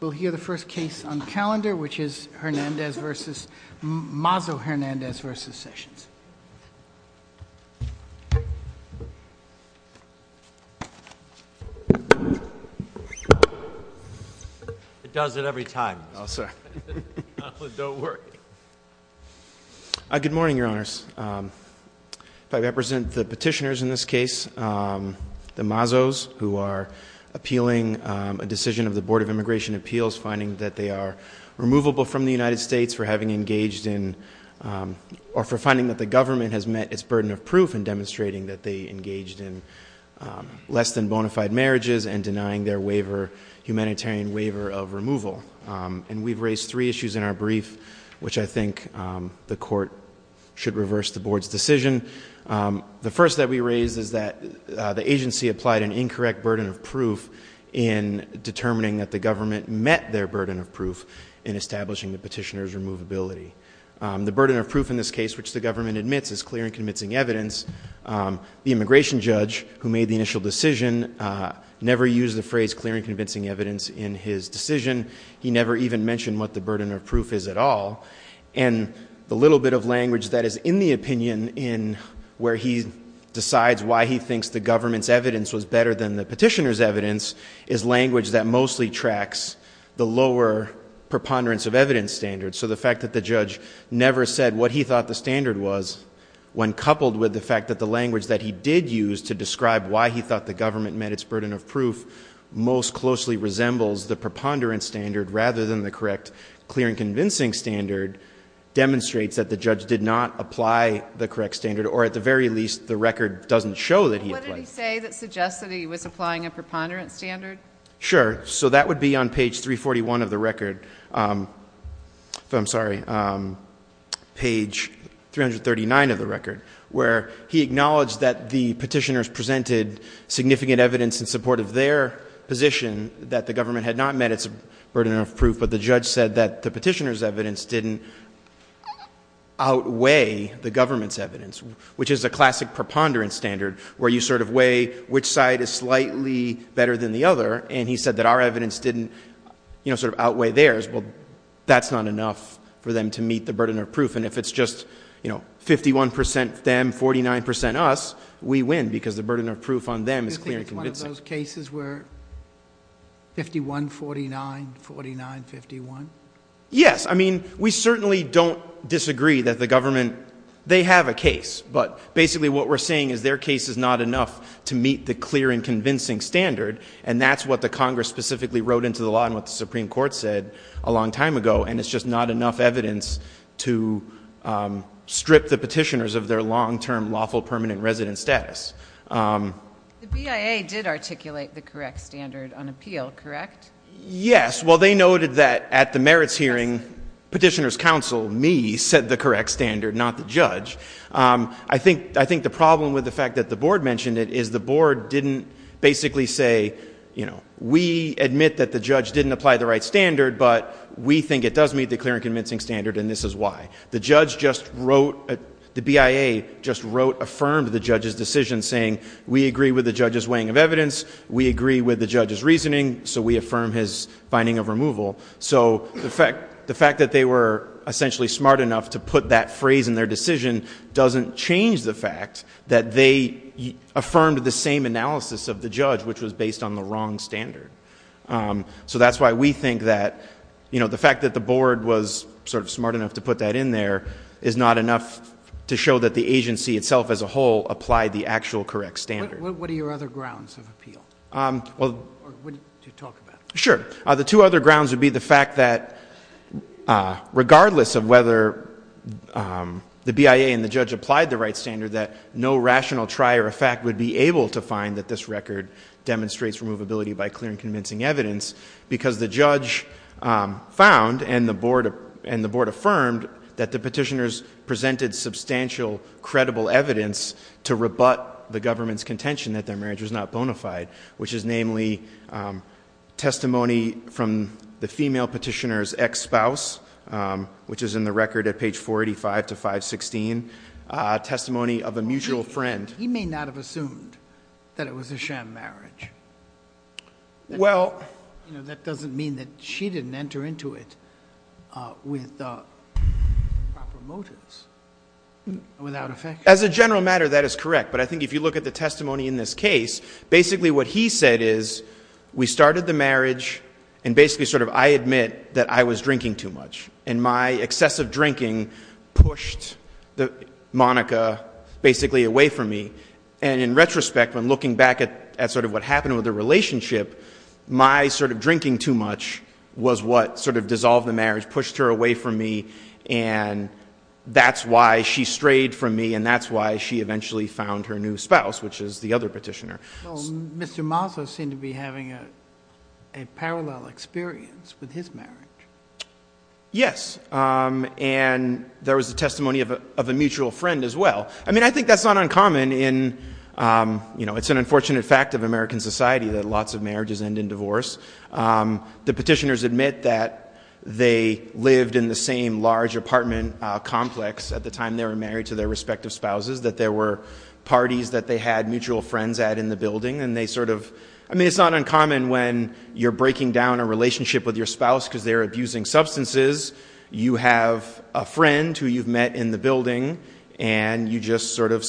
We'll hear the first case on calendar which is Hernandez versus Mazo Hernandez versus Sessions. It does it every time. Good morning your honors. I represent the petitioners in this case the Mazos who are appealing a decision of the Board of Immigration Appeals finding that they are removable from the United States for having engaged in or for finding that the government has met its burden of proof and demonstrating that they engaged in less than bona fide marriages and denying their waiver humanitarian waiver of removal and we've raised three issues in our brief which I think the court should reverse the board's decision. The first that we raised is that the agency applied an incorrect burden of proof in determining that the government met their burden of proof in establishing the petitioners removability. The burden of proof in this case which the government admits is clear and convincing evidence. The immigration judge who made the initial decision never used the phrase clear and convincing evidence in his decision. He never even mentioned what the burden of proof is at all and the little bit of language that is in the opinion in where he decides why he thinks the government's evidence was better than the petitioners evidence is language that mostly tracks the lower preponderance of evidence standards. So the fact that the judge never said what he thought the standard was when coupled with the fact that the language that he did use to describe why he thought the government met its burden of proof most closely resembles the preponderance standard rather than the correct clear and convincing standard demonstrates that the judge did not apply the correct standard or at the very least the record doesn't show that he was applying a preponderance standard. Sure so that would be on page 341 of the record I'm sorry page 339 of the record where he acknowledged that the petitioners presented significant evidence in support of their position that the government had not met its burden of proof but the judge said that the which is a classic preponderance standard where you sort of weigh which side is slightly better than the other and he said that our evidence didn't you know sort of outweigh theirs well that's not enough for them to meet the burden of proof and if it's just you know 51% them 49% us we win because the burden of proof on them is clear and convincing. You think it's one of those cases where 51, 49, 49, 51? Yes I mean we certainly don't disagree that the government they have a case but basically what we're saying is their case is not enough to meet the clear and convincing standard and that's what the Congress specifically wrote into the law and what the Supreme Court said a long time ago and it's just not enough evidence to strip the petitioners of their long-term lawful permanent resident status. The BIA did articulate the correct standard on appeal correct? Yes well they noted that at the merits hearing petitioners counsel me said the correct standard not the judge. I think I think the problem with the fact that the board mentioned it is the board didn't basically say you know we admit that the judge didn't apply the right standard but we think it does meet the clear and convincing standard and this is why. The judge just wrote the BIA just wrote affirmed the judge's decision saying we agree with the judge's weighing of evidence we agree with the judge's reasoning so we affirm his finding of removal so the fact the fact that they were essentially smart enough to put that phrase in their decision doesn't change the fact that they affirmed the same analysis of the judge which was based on the wrong standard so that's why we think that you know the fact that the board was sort of smart enough to put that in there is not enough to show that the agency itself as a whole applied the actual correct standard. What are your other grounds of appeal? Sure the two other grounds would be the fact that regardless of whether the BIA and the judge applied the right standard that no rational try or effect would be able to find that this record demonstrates removability by clear and convincing evidence because the judge found and the board and the board affirmed that the petitioners presented substantial credible evidence to rebut the government's contention that their marriage was not bona fide which is namely testimony from the female petitioners ex-spouse which is in the record at page 485 to 516 testimony of a mutual friend. He may not have assumed that it was a sham marriage. Well that doesn't mean that she didn't enter into it without effect. As a general matter that is correct but I think if you look at the testimony in this case basically what he said is we started the marriage and basically sort of I admit that I was drinking too much and my excessive drinking pushed the Monica basically away from me and in retrospect when looking back at sort of what happened with the relationship my sort of drinking too much was what sort of dissolved the marriage pushed her away from me and that's why she strayed from me and that's why she eventually found her new spouse which is the other petitioner. Mr. Mazza seemed to be having a parallel experience with his marriage. Yes and there was a testimony of a mutual friend as well. I mean I think that's not uncommon in you know it's an unfortunate fact of American society that lots of marriages end in divorce. The petitioners admit that they lived in the same large apartment complex at the time they were married to their respective spouses that there were parties that they had mutual friends at in the building and they sort of I mean it's not uncommon when you're breaking down a relationship with your spouse because they're abusing substances you have a friend who you've met in the building and you just sort of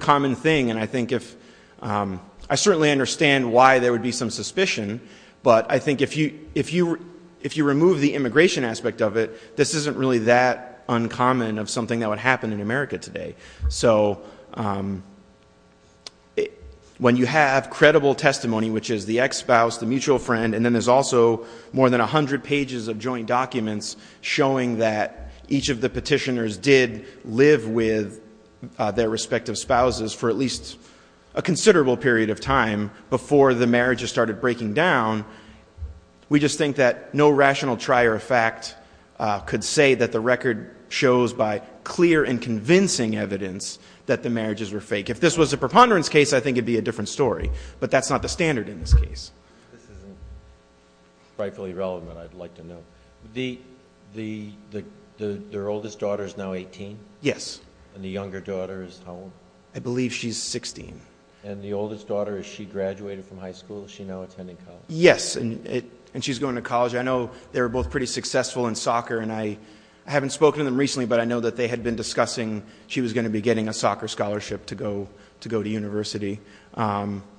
common thing and I think if I certainly understand why there would be some suspicion but I think if you if you if you remove the immigration aspect of it this isn't really that uncommon of something that would happen in America today. So when you have credible testimony which is the ex-spouse the mutual friend and then there's also more than a hundred pages of joint documents showing that each of the petitioners did live with their respective spouses for at least a considerable period of time before the marriages started breaking down we just think that no rational trier of fact could say that the record shows by clear and convincing evidence that the marriages were fake. If this was a preponderance case I think it'd be a different story but that's not the standard in this case. This isn't rightfully relevant I'd like to know. The the the the their oldest daughter is now 18? Yes. And the younger daughter is how old? I believe she's 16. And the oldest daughter is she graduated from high school? Is she now attending college? Yes and it and she's going to college. I know they were both pretty successful in soccer and I haven't spoken to them recently but I know that they had been discussing she was going to be getting a soccer scholarship to go to university and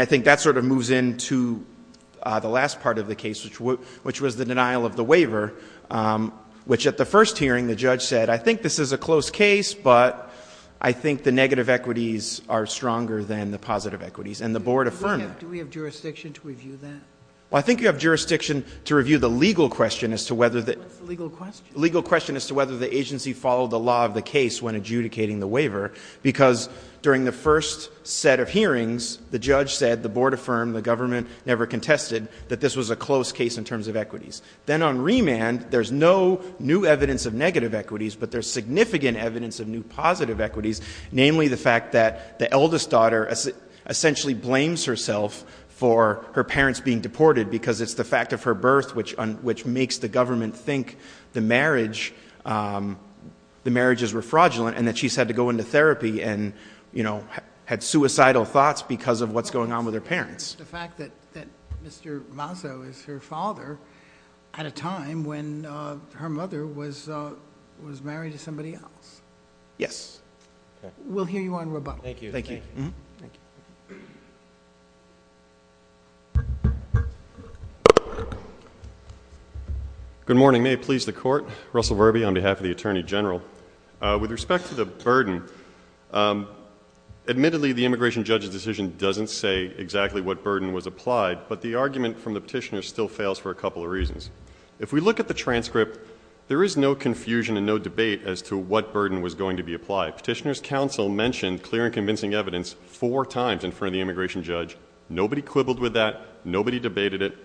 I think that sort of moves into the last part of the case which which was the denial of the waiver which at the first hearing the judge said I think this is a close case but I think the negative equities are stronger than the positive equities and the board affirmed that. Do we have jurisdiction to review that? I think you have jurisdiction to review the legal question as to whether the legal question as to whether the agency followed the law of case when adjudicating the waiver because during the first set of hearings the judge said the board affirmed the government never contested that this was a close case in terms of equities. Then on remand there's no new evidence of negative equities but there's significant evidence of new positive equities namely the fact that the eldest daughter essentially blames herself for her parents being deported because it's the fact of her birth which on which were fraudulent and that she said to go into therapy and you know had suicidal thoughts because of what's going on with her parents. The fact that Mr. Mazzo is her father at a time when her mother was was married to somebody else. Yes. We'll hear you on rebuttal. Thank you. Good morning may it please the court. Russell Verby on behalf of the Attorney General. With respect to the burden admittedly the immigration judge's decision doesn't say exactly what burden was applied but the argument from the petitioner still fails for a couple of reasons. If we look at the transcript there is no confusion and no debate as to what burden was going to be applied. Petitioner's counsel mentioned clear and convincing evidence four times in front of the immigration judge. Nobody quibbled with that. Nobody debated it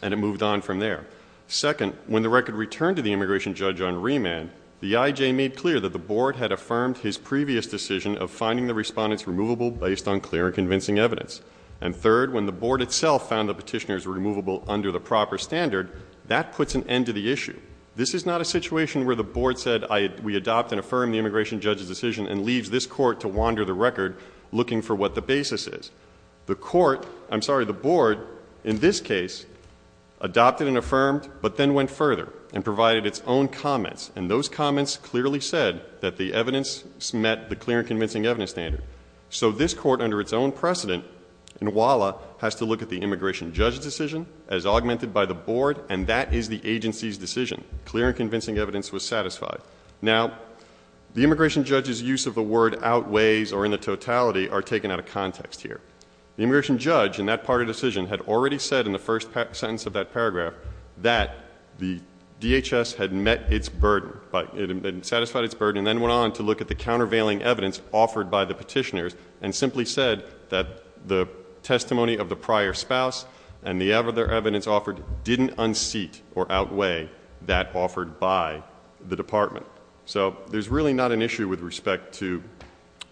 and it moved on from there. Second when the record returned to the immigration judge on remand the IJ made clear that the board had affirmed his previous decision of finding the respondents removable based on clear and convincing evidence. And third when the board itself found the petitioners removable under the proper standard that puts an end to the issue. This is not a situation where the board said I we adopt and affirm the immigration judge's decision and leaves this court to wander the record looking for what the basis is. The court I'm sorry the board in this case adopted and affirmed but then went further and those comments clearly said that the evidence met the clear and convincing evidence standard. So this court under its own precedent in WALA has to look at the immigration judge's decision as augmented by the board and that is the agency's decision. Clear and convincing evidence was satisfied. Now the immigration judge's use of the word outweighs or in the totality are taken out of context here. The immigration judge in that part of decision had already said in the first sentence of that paragraph that the DHS had met its burden but it had been satisfied its burden and then went on to look at the countervailing evidence offered by the petitioners and simply said that the testimony of the prior spouse and the evidence offered didn't unseat or outweigh that offered by the department. So there's really not an issue with respect to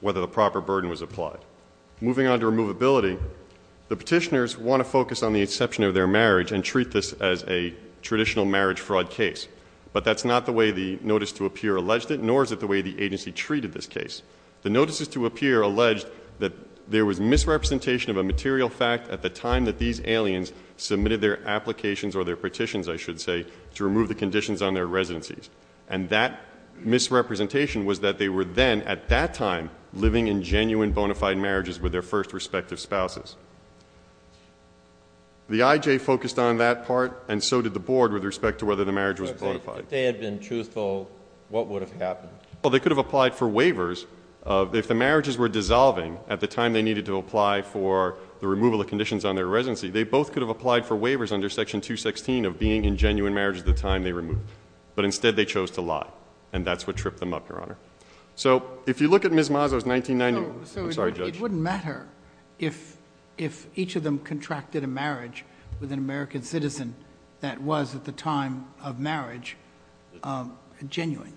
whether the proper burden was applied. Moving on to removability the petitioners want to focus on the exception of their marriage and treat this as a traditional marriage fraud case but that's not the way the notice to appear alleged it nor is it the way the agency treated this case. The notices to appear alleged that there was misrepresentation of a material fact at the time that these aliens submitted their applications or their petitions I should say to remove the conditions on their residencies and that misrepresentation was that they were then at that time living in genuine bona fide marriages with their first respective spouses. The IJ focused on that part and so did the board with respect to whether the marriage was bona fide. If they had been truthful what would have happened? Well they could have applied for waivers of if the marriages were dissolving at the time they needed to apply for the removal of conditions on their residency they both could have applied for waivers under section 216 of being in genuine marriage at the time they removed but instead they chose to lie and that's what tripped them up your honor. So if you look at Ms. Mazzo's 1990. It wouldn't matter if if each of them contracted a marriage with an American citizen that was at the time of marriage genuine.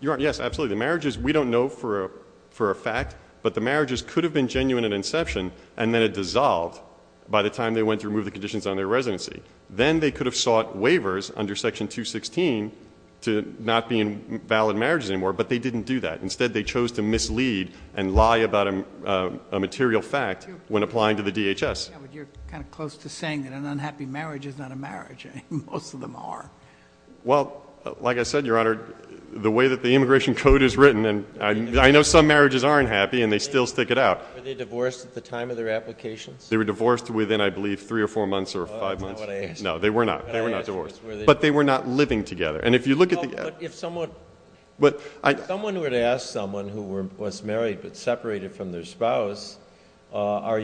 Your honor yes absolutely the marriages we don't know for a for a fact but the marriages could have been genuine at inception and then it dissolved by the time they went to remove the conditions on their residency then they could have sought waivers under section 216 to not be in valid marriages anymore but they didn't do that instead they chose to mislead and applying to the DHS. You're kind of close to saying that an unhappy marriage is not a marriage. Most of them are. Well like I said your honor the way that the immigration code is written and I know some marriages aren't happy and they still stick it out. Were they divorced at the time of their applications? They were divorced within I believe three or four months or five months. No they were not they were not divorced but they were not living together and if you look at the if someone but I someone were to ask someone who were was married but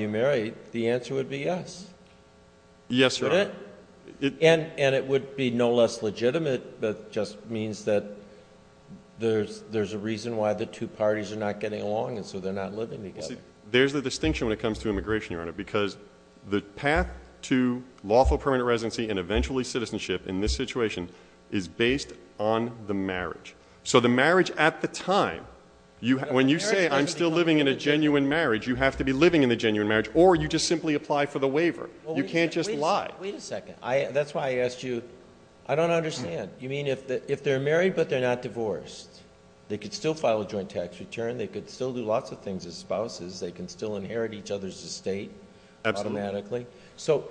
you married the answer would be yes. Yes your honor. And it would be no less legitimate but just means that there's there's a reason why the two parties are not getting along and so they're not living together. There's the distinction when it comes to immigration your honor because the path to lawful permanent residency and eventually citizenship in this situation is based on the marriage so the marriage at the time you have when you say I'm still living in a marriage or you just simply apply for the waiver you can't just lie. Wait a second I that's why I asked you I don't understand you mean if that if they're married but they're not divorced they could still file a joint tax return they could still do lots of things as spouses they can still inherit each other's estate automatically so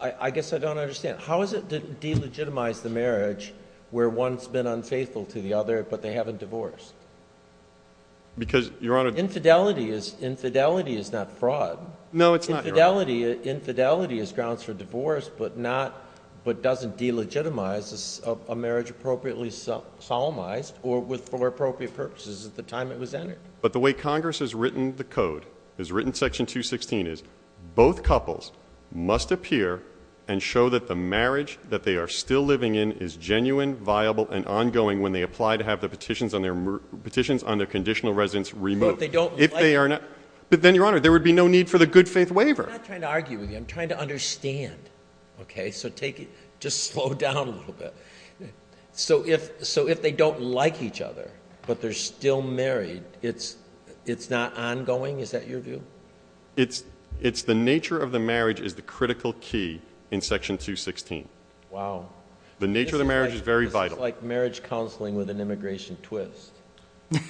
I guess I don't understand how is it to delegitimize the marriage where one's been unfaithful to the other but they haven't divorced because your honor infidelity is infidelity is not fraud no it's not infidelity infidelity is grounds for divorce but not but doesn't delegitimize a marriage appropriately solemnized or with for appropriate purposes at the time it was entered. But the way Congress has written the code has written section 216 is both couples must appear and show that the marriage that they are still living in is genuine viable and ongoing when they apply to have the petitions on their petitions on their conditional residence remote they don't if they are not but then your honor there would be no need for the good faith waiver. I'm trying to understand okay so take it just slow down a little bit so if so if they don't like each other but they're still married it's it's not ongoing is that your view? It's it's the nature of the marriage is the critical key in section 216. Wow. The nature of the marriage is very vital. It's like marriage counseling with an immigration twist.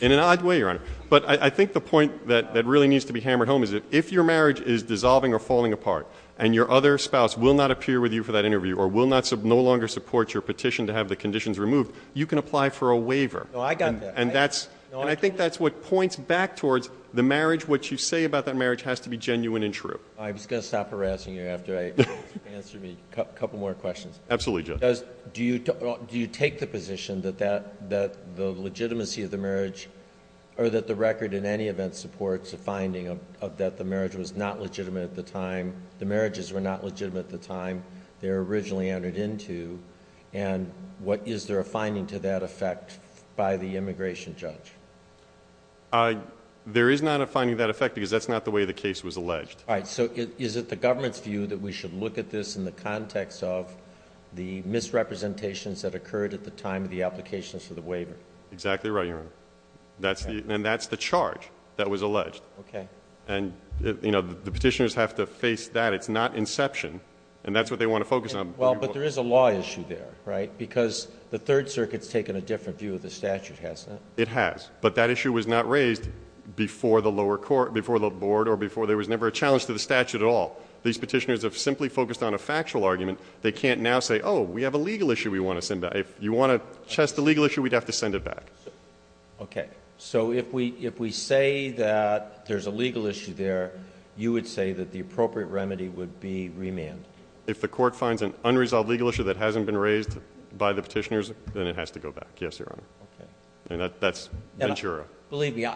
In an odd way your honor but I think the point that that really needs to be hammered home is it if your marriage is dissolving or falling apart and your other spouse will not appear with you for that interview or will not sub no longer support your petition to have the conditions removed you can apply for a waiver. No I got that. And that's I think that's what points back towards the marriage what you say about that marriage has to be genuine and true. I'm just gonna stop harassing you after I answer me a couple more questions. Absolutely Judge. Do you do you take the position that that that the legitimacy of the marriage or that the record in any event supports a finding of that the marriage was not legitimate at the time the marriages were not legitimate at the time they're originally entered into and what is there a finding to that effect by the immigration judge? There is not a finding that effect because that's not the way the case was alleged. All right so it's in the context of the misrepresentations that occurred at the time of the applications for the waiver. Exactly right your honor. That's the and that's the charge that was alleged. Okay. And you know the petitioners have to face that it's not inception and that's what they want to focus on. Well but there is a law issue there right because the Third Circuit's taken a different view of the statute hasn't it? It has but that issue was not raised before the lower court before the board or before there was never a challenge to the argument they can't now say oh we have a legal issue we want to send back if you want to test the legal issue we'd have to send it back. Okay so if we if we say that there's a legal issue there you would say that the appropriate remedy would be remand. If the court finds an unresolved legal issue that hasn't been raised by the petitioners then it has to go back yes your honor. Okay. And that's Ventura. Believe me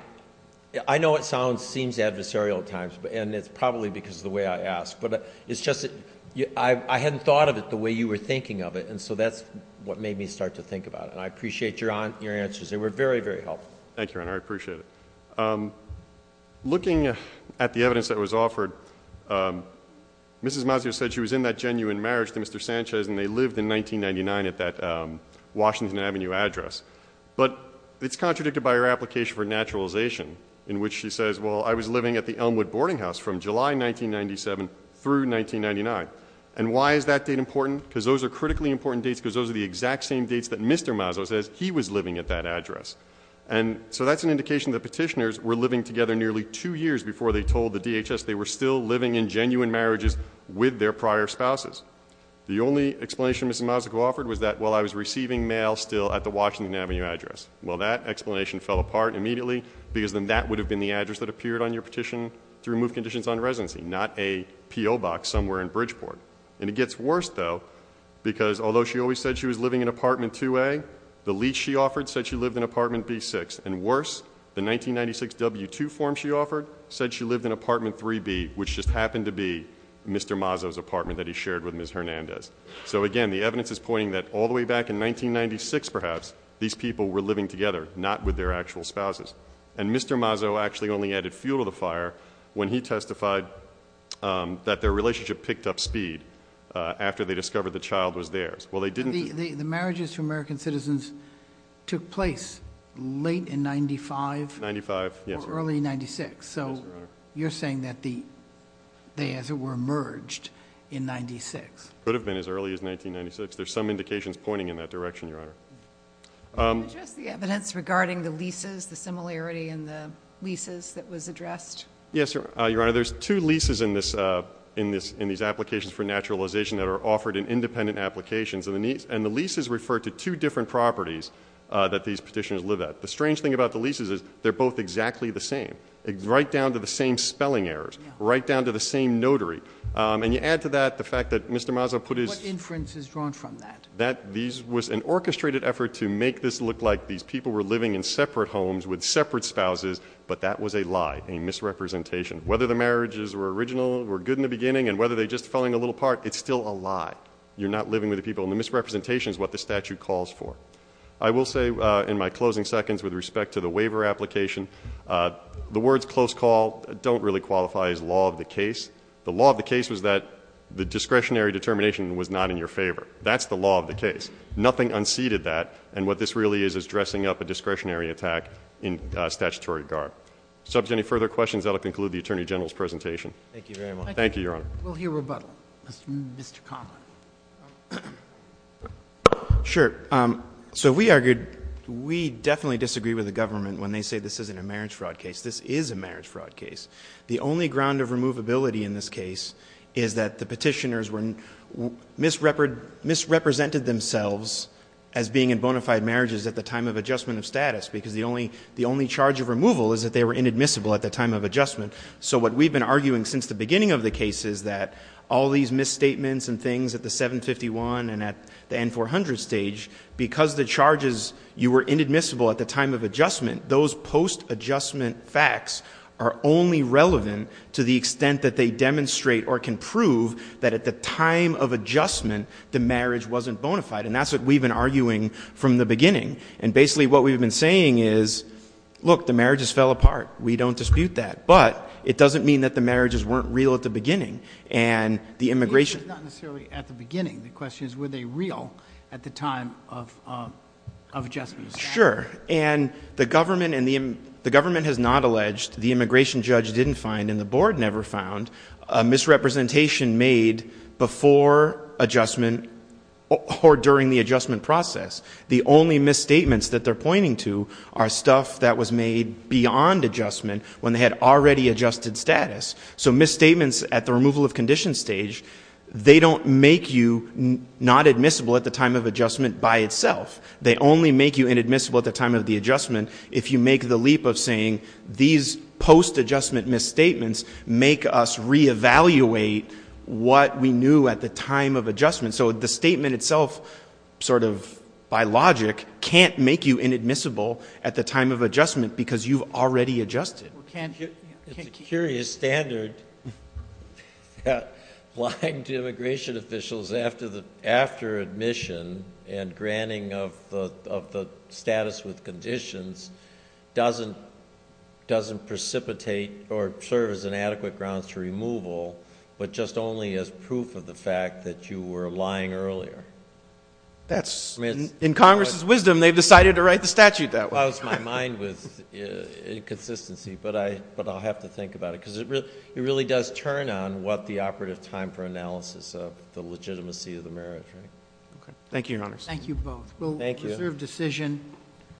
I know it sounds seems adversarial at times but and it's probably because of the way I ask but it's just I hadn't thought of it the way you were thinking of it and so that's what made me start to think about it and I appreciate your answers they were very very helpful. Thank you your honor I appreciate it. Looking at the evidence that was offered Mrs. Mazio said she was in that genuine marriage to Mr. Sanchez and they lived in 1999 at that Washington Avenue address but it's contradicted by her application for naturalization in which she says well I was living at the Elmwood boarding house from July 1997 through 1999 and why is that date important because those are critically important dates because those are the exact same dates that Mr. Mazio says he was living at that address and so that's an indication that petitioners were living together nearly two years before they told the DHS they were still living in genuine marriages with their prior spouses. The only explanation Mrs. Mazio offered was that while I was receiving mail still at the Washington Avenue address. Well that explanation fell apart immediately because then that would have been the address that appeared on your petition to remove conditions on residency not a P.O. box somewhere in Bridgeport and it gets worse though because although she always said she was living in apartment 2A the lease she offered said she lived in apartment B6 and worse the 1996 W-2 form she offered said she lived in apartment 3B which just happened to be Mr. Mazio's apartment that he shared with Ms. Hernandez. So again the evidence is pointing that all the way back in 1996 perhaps these people were living together not with their actual spouses and Mr. Mazio actually only added fuel to the fire when he testified that their relationship picked up speed after they discovered the child was theirs. Well they didn't. The marriages to American citizens took place late in 95? 95 yes. Or early 96 so you're saying that the they as it were merged in 96? Could have been as early as 1996 there's some indications pointing in that direction Your Honor. Can you address the evidence regarding the leases the similarity in the leases that was addressed? Yes Your Honor there's two leases in this in this in these applications for naturalization that are offered in independent applications and the leases refer to two different properties that these petitioners live at. The strange thing about the leases is they're both exactly the same right down to the same spelling errors right down to the same notary and you add to that the fact that Mr. Mazio put his... What inference is drawn from that? That these was an orchestrated effort to make this look like these people were living in separate homes with separate spouses but that was a lie a misrepresentation whether the marriages were original were good in the beginning and whether they just falling a little part it's still a lie you're not living with the people in the misrepresentation is what the statute calls for I will say in my closing seconds with respect to the waiver application the words close call don't really qualify as law of the case the law of the case was that the discretionary determination was not in your favor that's the law of the case nothing unseated that and what this really is is dressing up a discretionary attack in statutory regard subject any further questions that'll conclude the Attorney General's presentation. Thank you very much. Thank you, Your Honor. We'll hear rebuttal, Mr. Conlon. Sure, so we argued we definitely disagree with the government when they say this isn't a marriage fraud case this is a marriage fraud case the only ground of removability in this case is that the petitioners were misrepresented themselves as being in bona fide marriages at the time of adjustment of status because the only the only charge of removal is that they were inadmissible at the time of adjustment so what we've been arguing since the beginning of the case is that all these misstatements and things at the 751 and at the N-400 stage because the charges you were inadmissible at the time of adjustment those post-adjustment facts are only relevant to the extent that they demonstrate or can prove that at the time of adjustment the marriage wasn't bona fide and that's what we've been arguing from the beginning and basically what we've been saying is look the marriages fell apart we don't dispute that but it doesn't mean that the marriages weren't real at the beginning and the immigration... Not necessarily at the beginning. The question is were they real at the time of adjustment. Sure and the government and the the government has not alleged the immigration judge didn't find and the board never found a misrepresentation made before adjustment or during the adjustment process the only misstatements that they're pointing to are stuff that was made beyond adjustment when they had already adjusted status so misstatements at the removal of condition stage they don't make you not admissible at the time of adjustment by itself they only make you inadmissible at the time of the adjustment if you make the leap of saying these post-adjustment misstatements make us re-evaluate what we knew at the time of adjustment so the statement itself sort of by logic can't make you inadmissible at the time of adjustment because you've already adjusted. It's a curious standard applying to immigration officials after the after admission and granting of the status with conditions doesn't doesn't precipitate or serve as an adequate grounds to removal but just only as proof of the fact that you were lying earlier that's in Congress's wisdom they've decided to write the statute that was my mind with inconsistency but I but I'll have to think about it because it really does turn on what the operative time for analysis of the legitimacy of the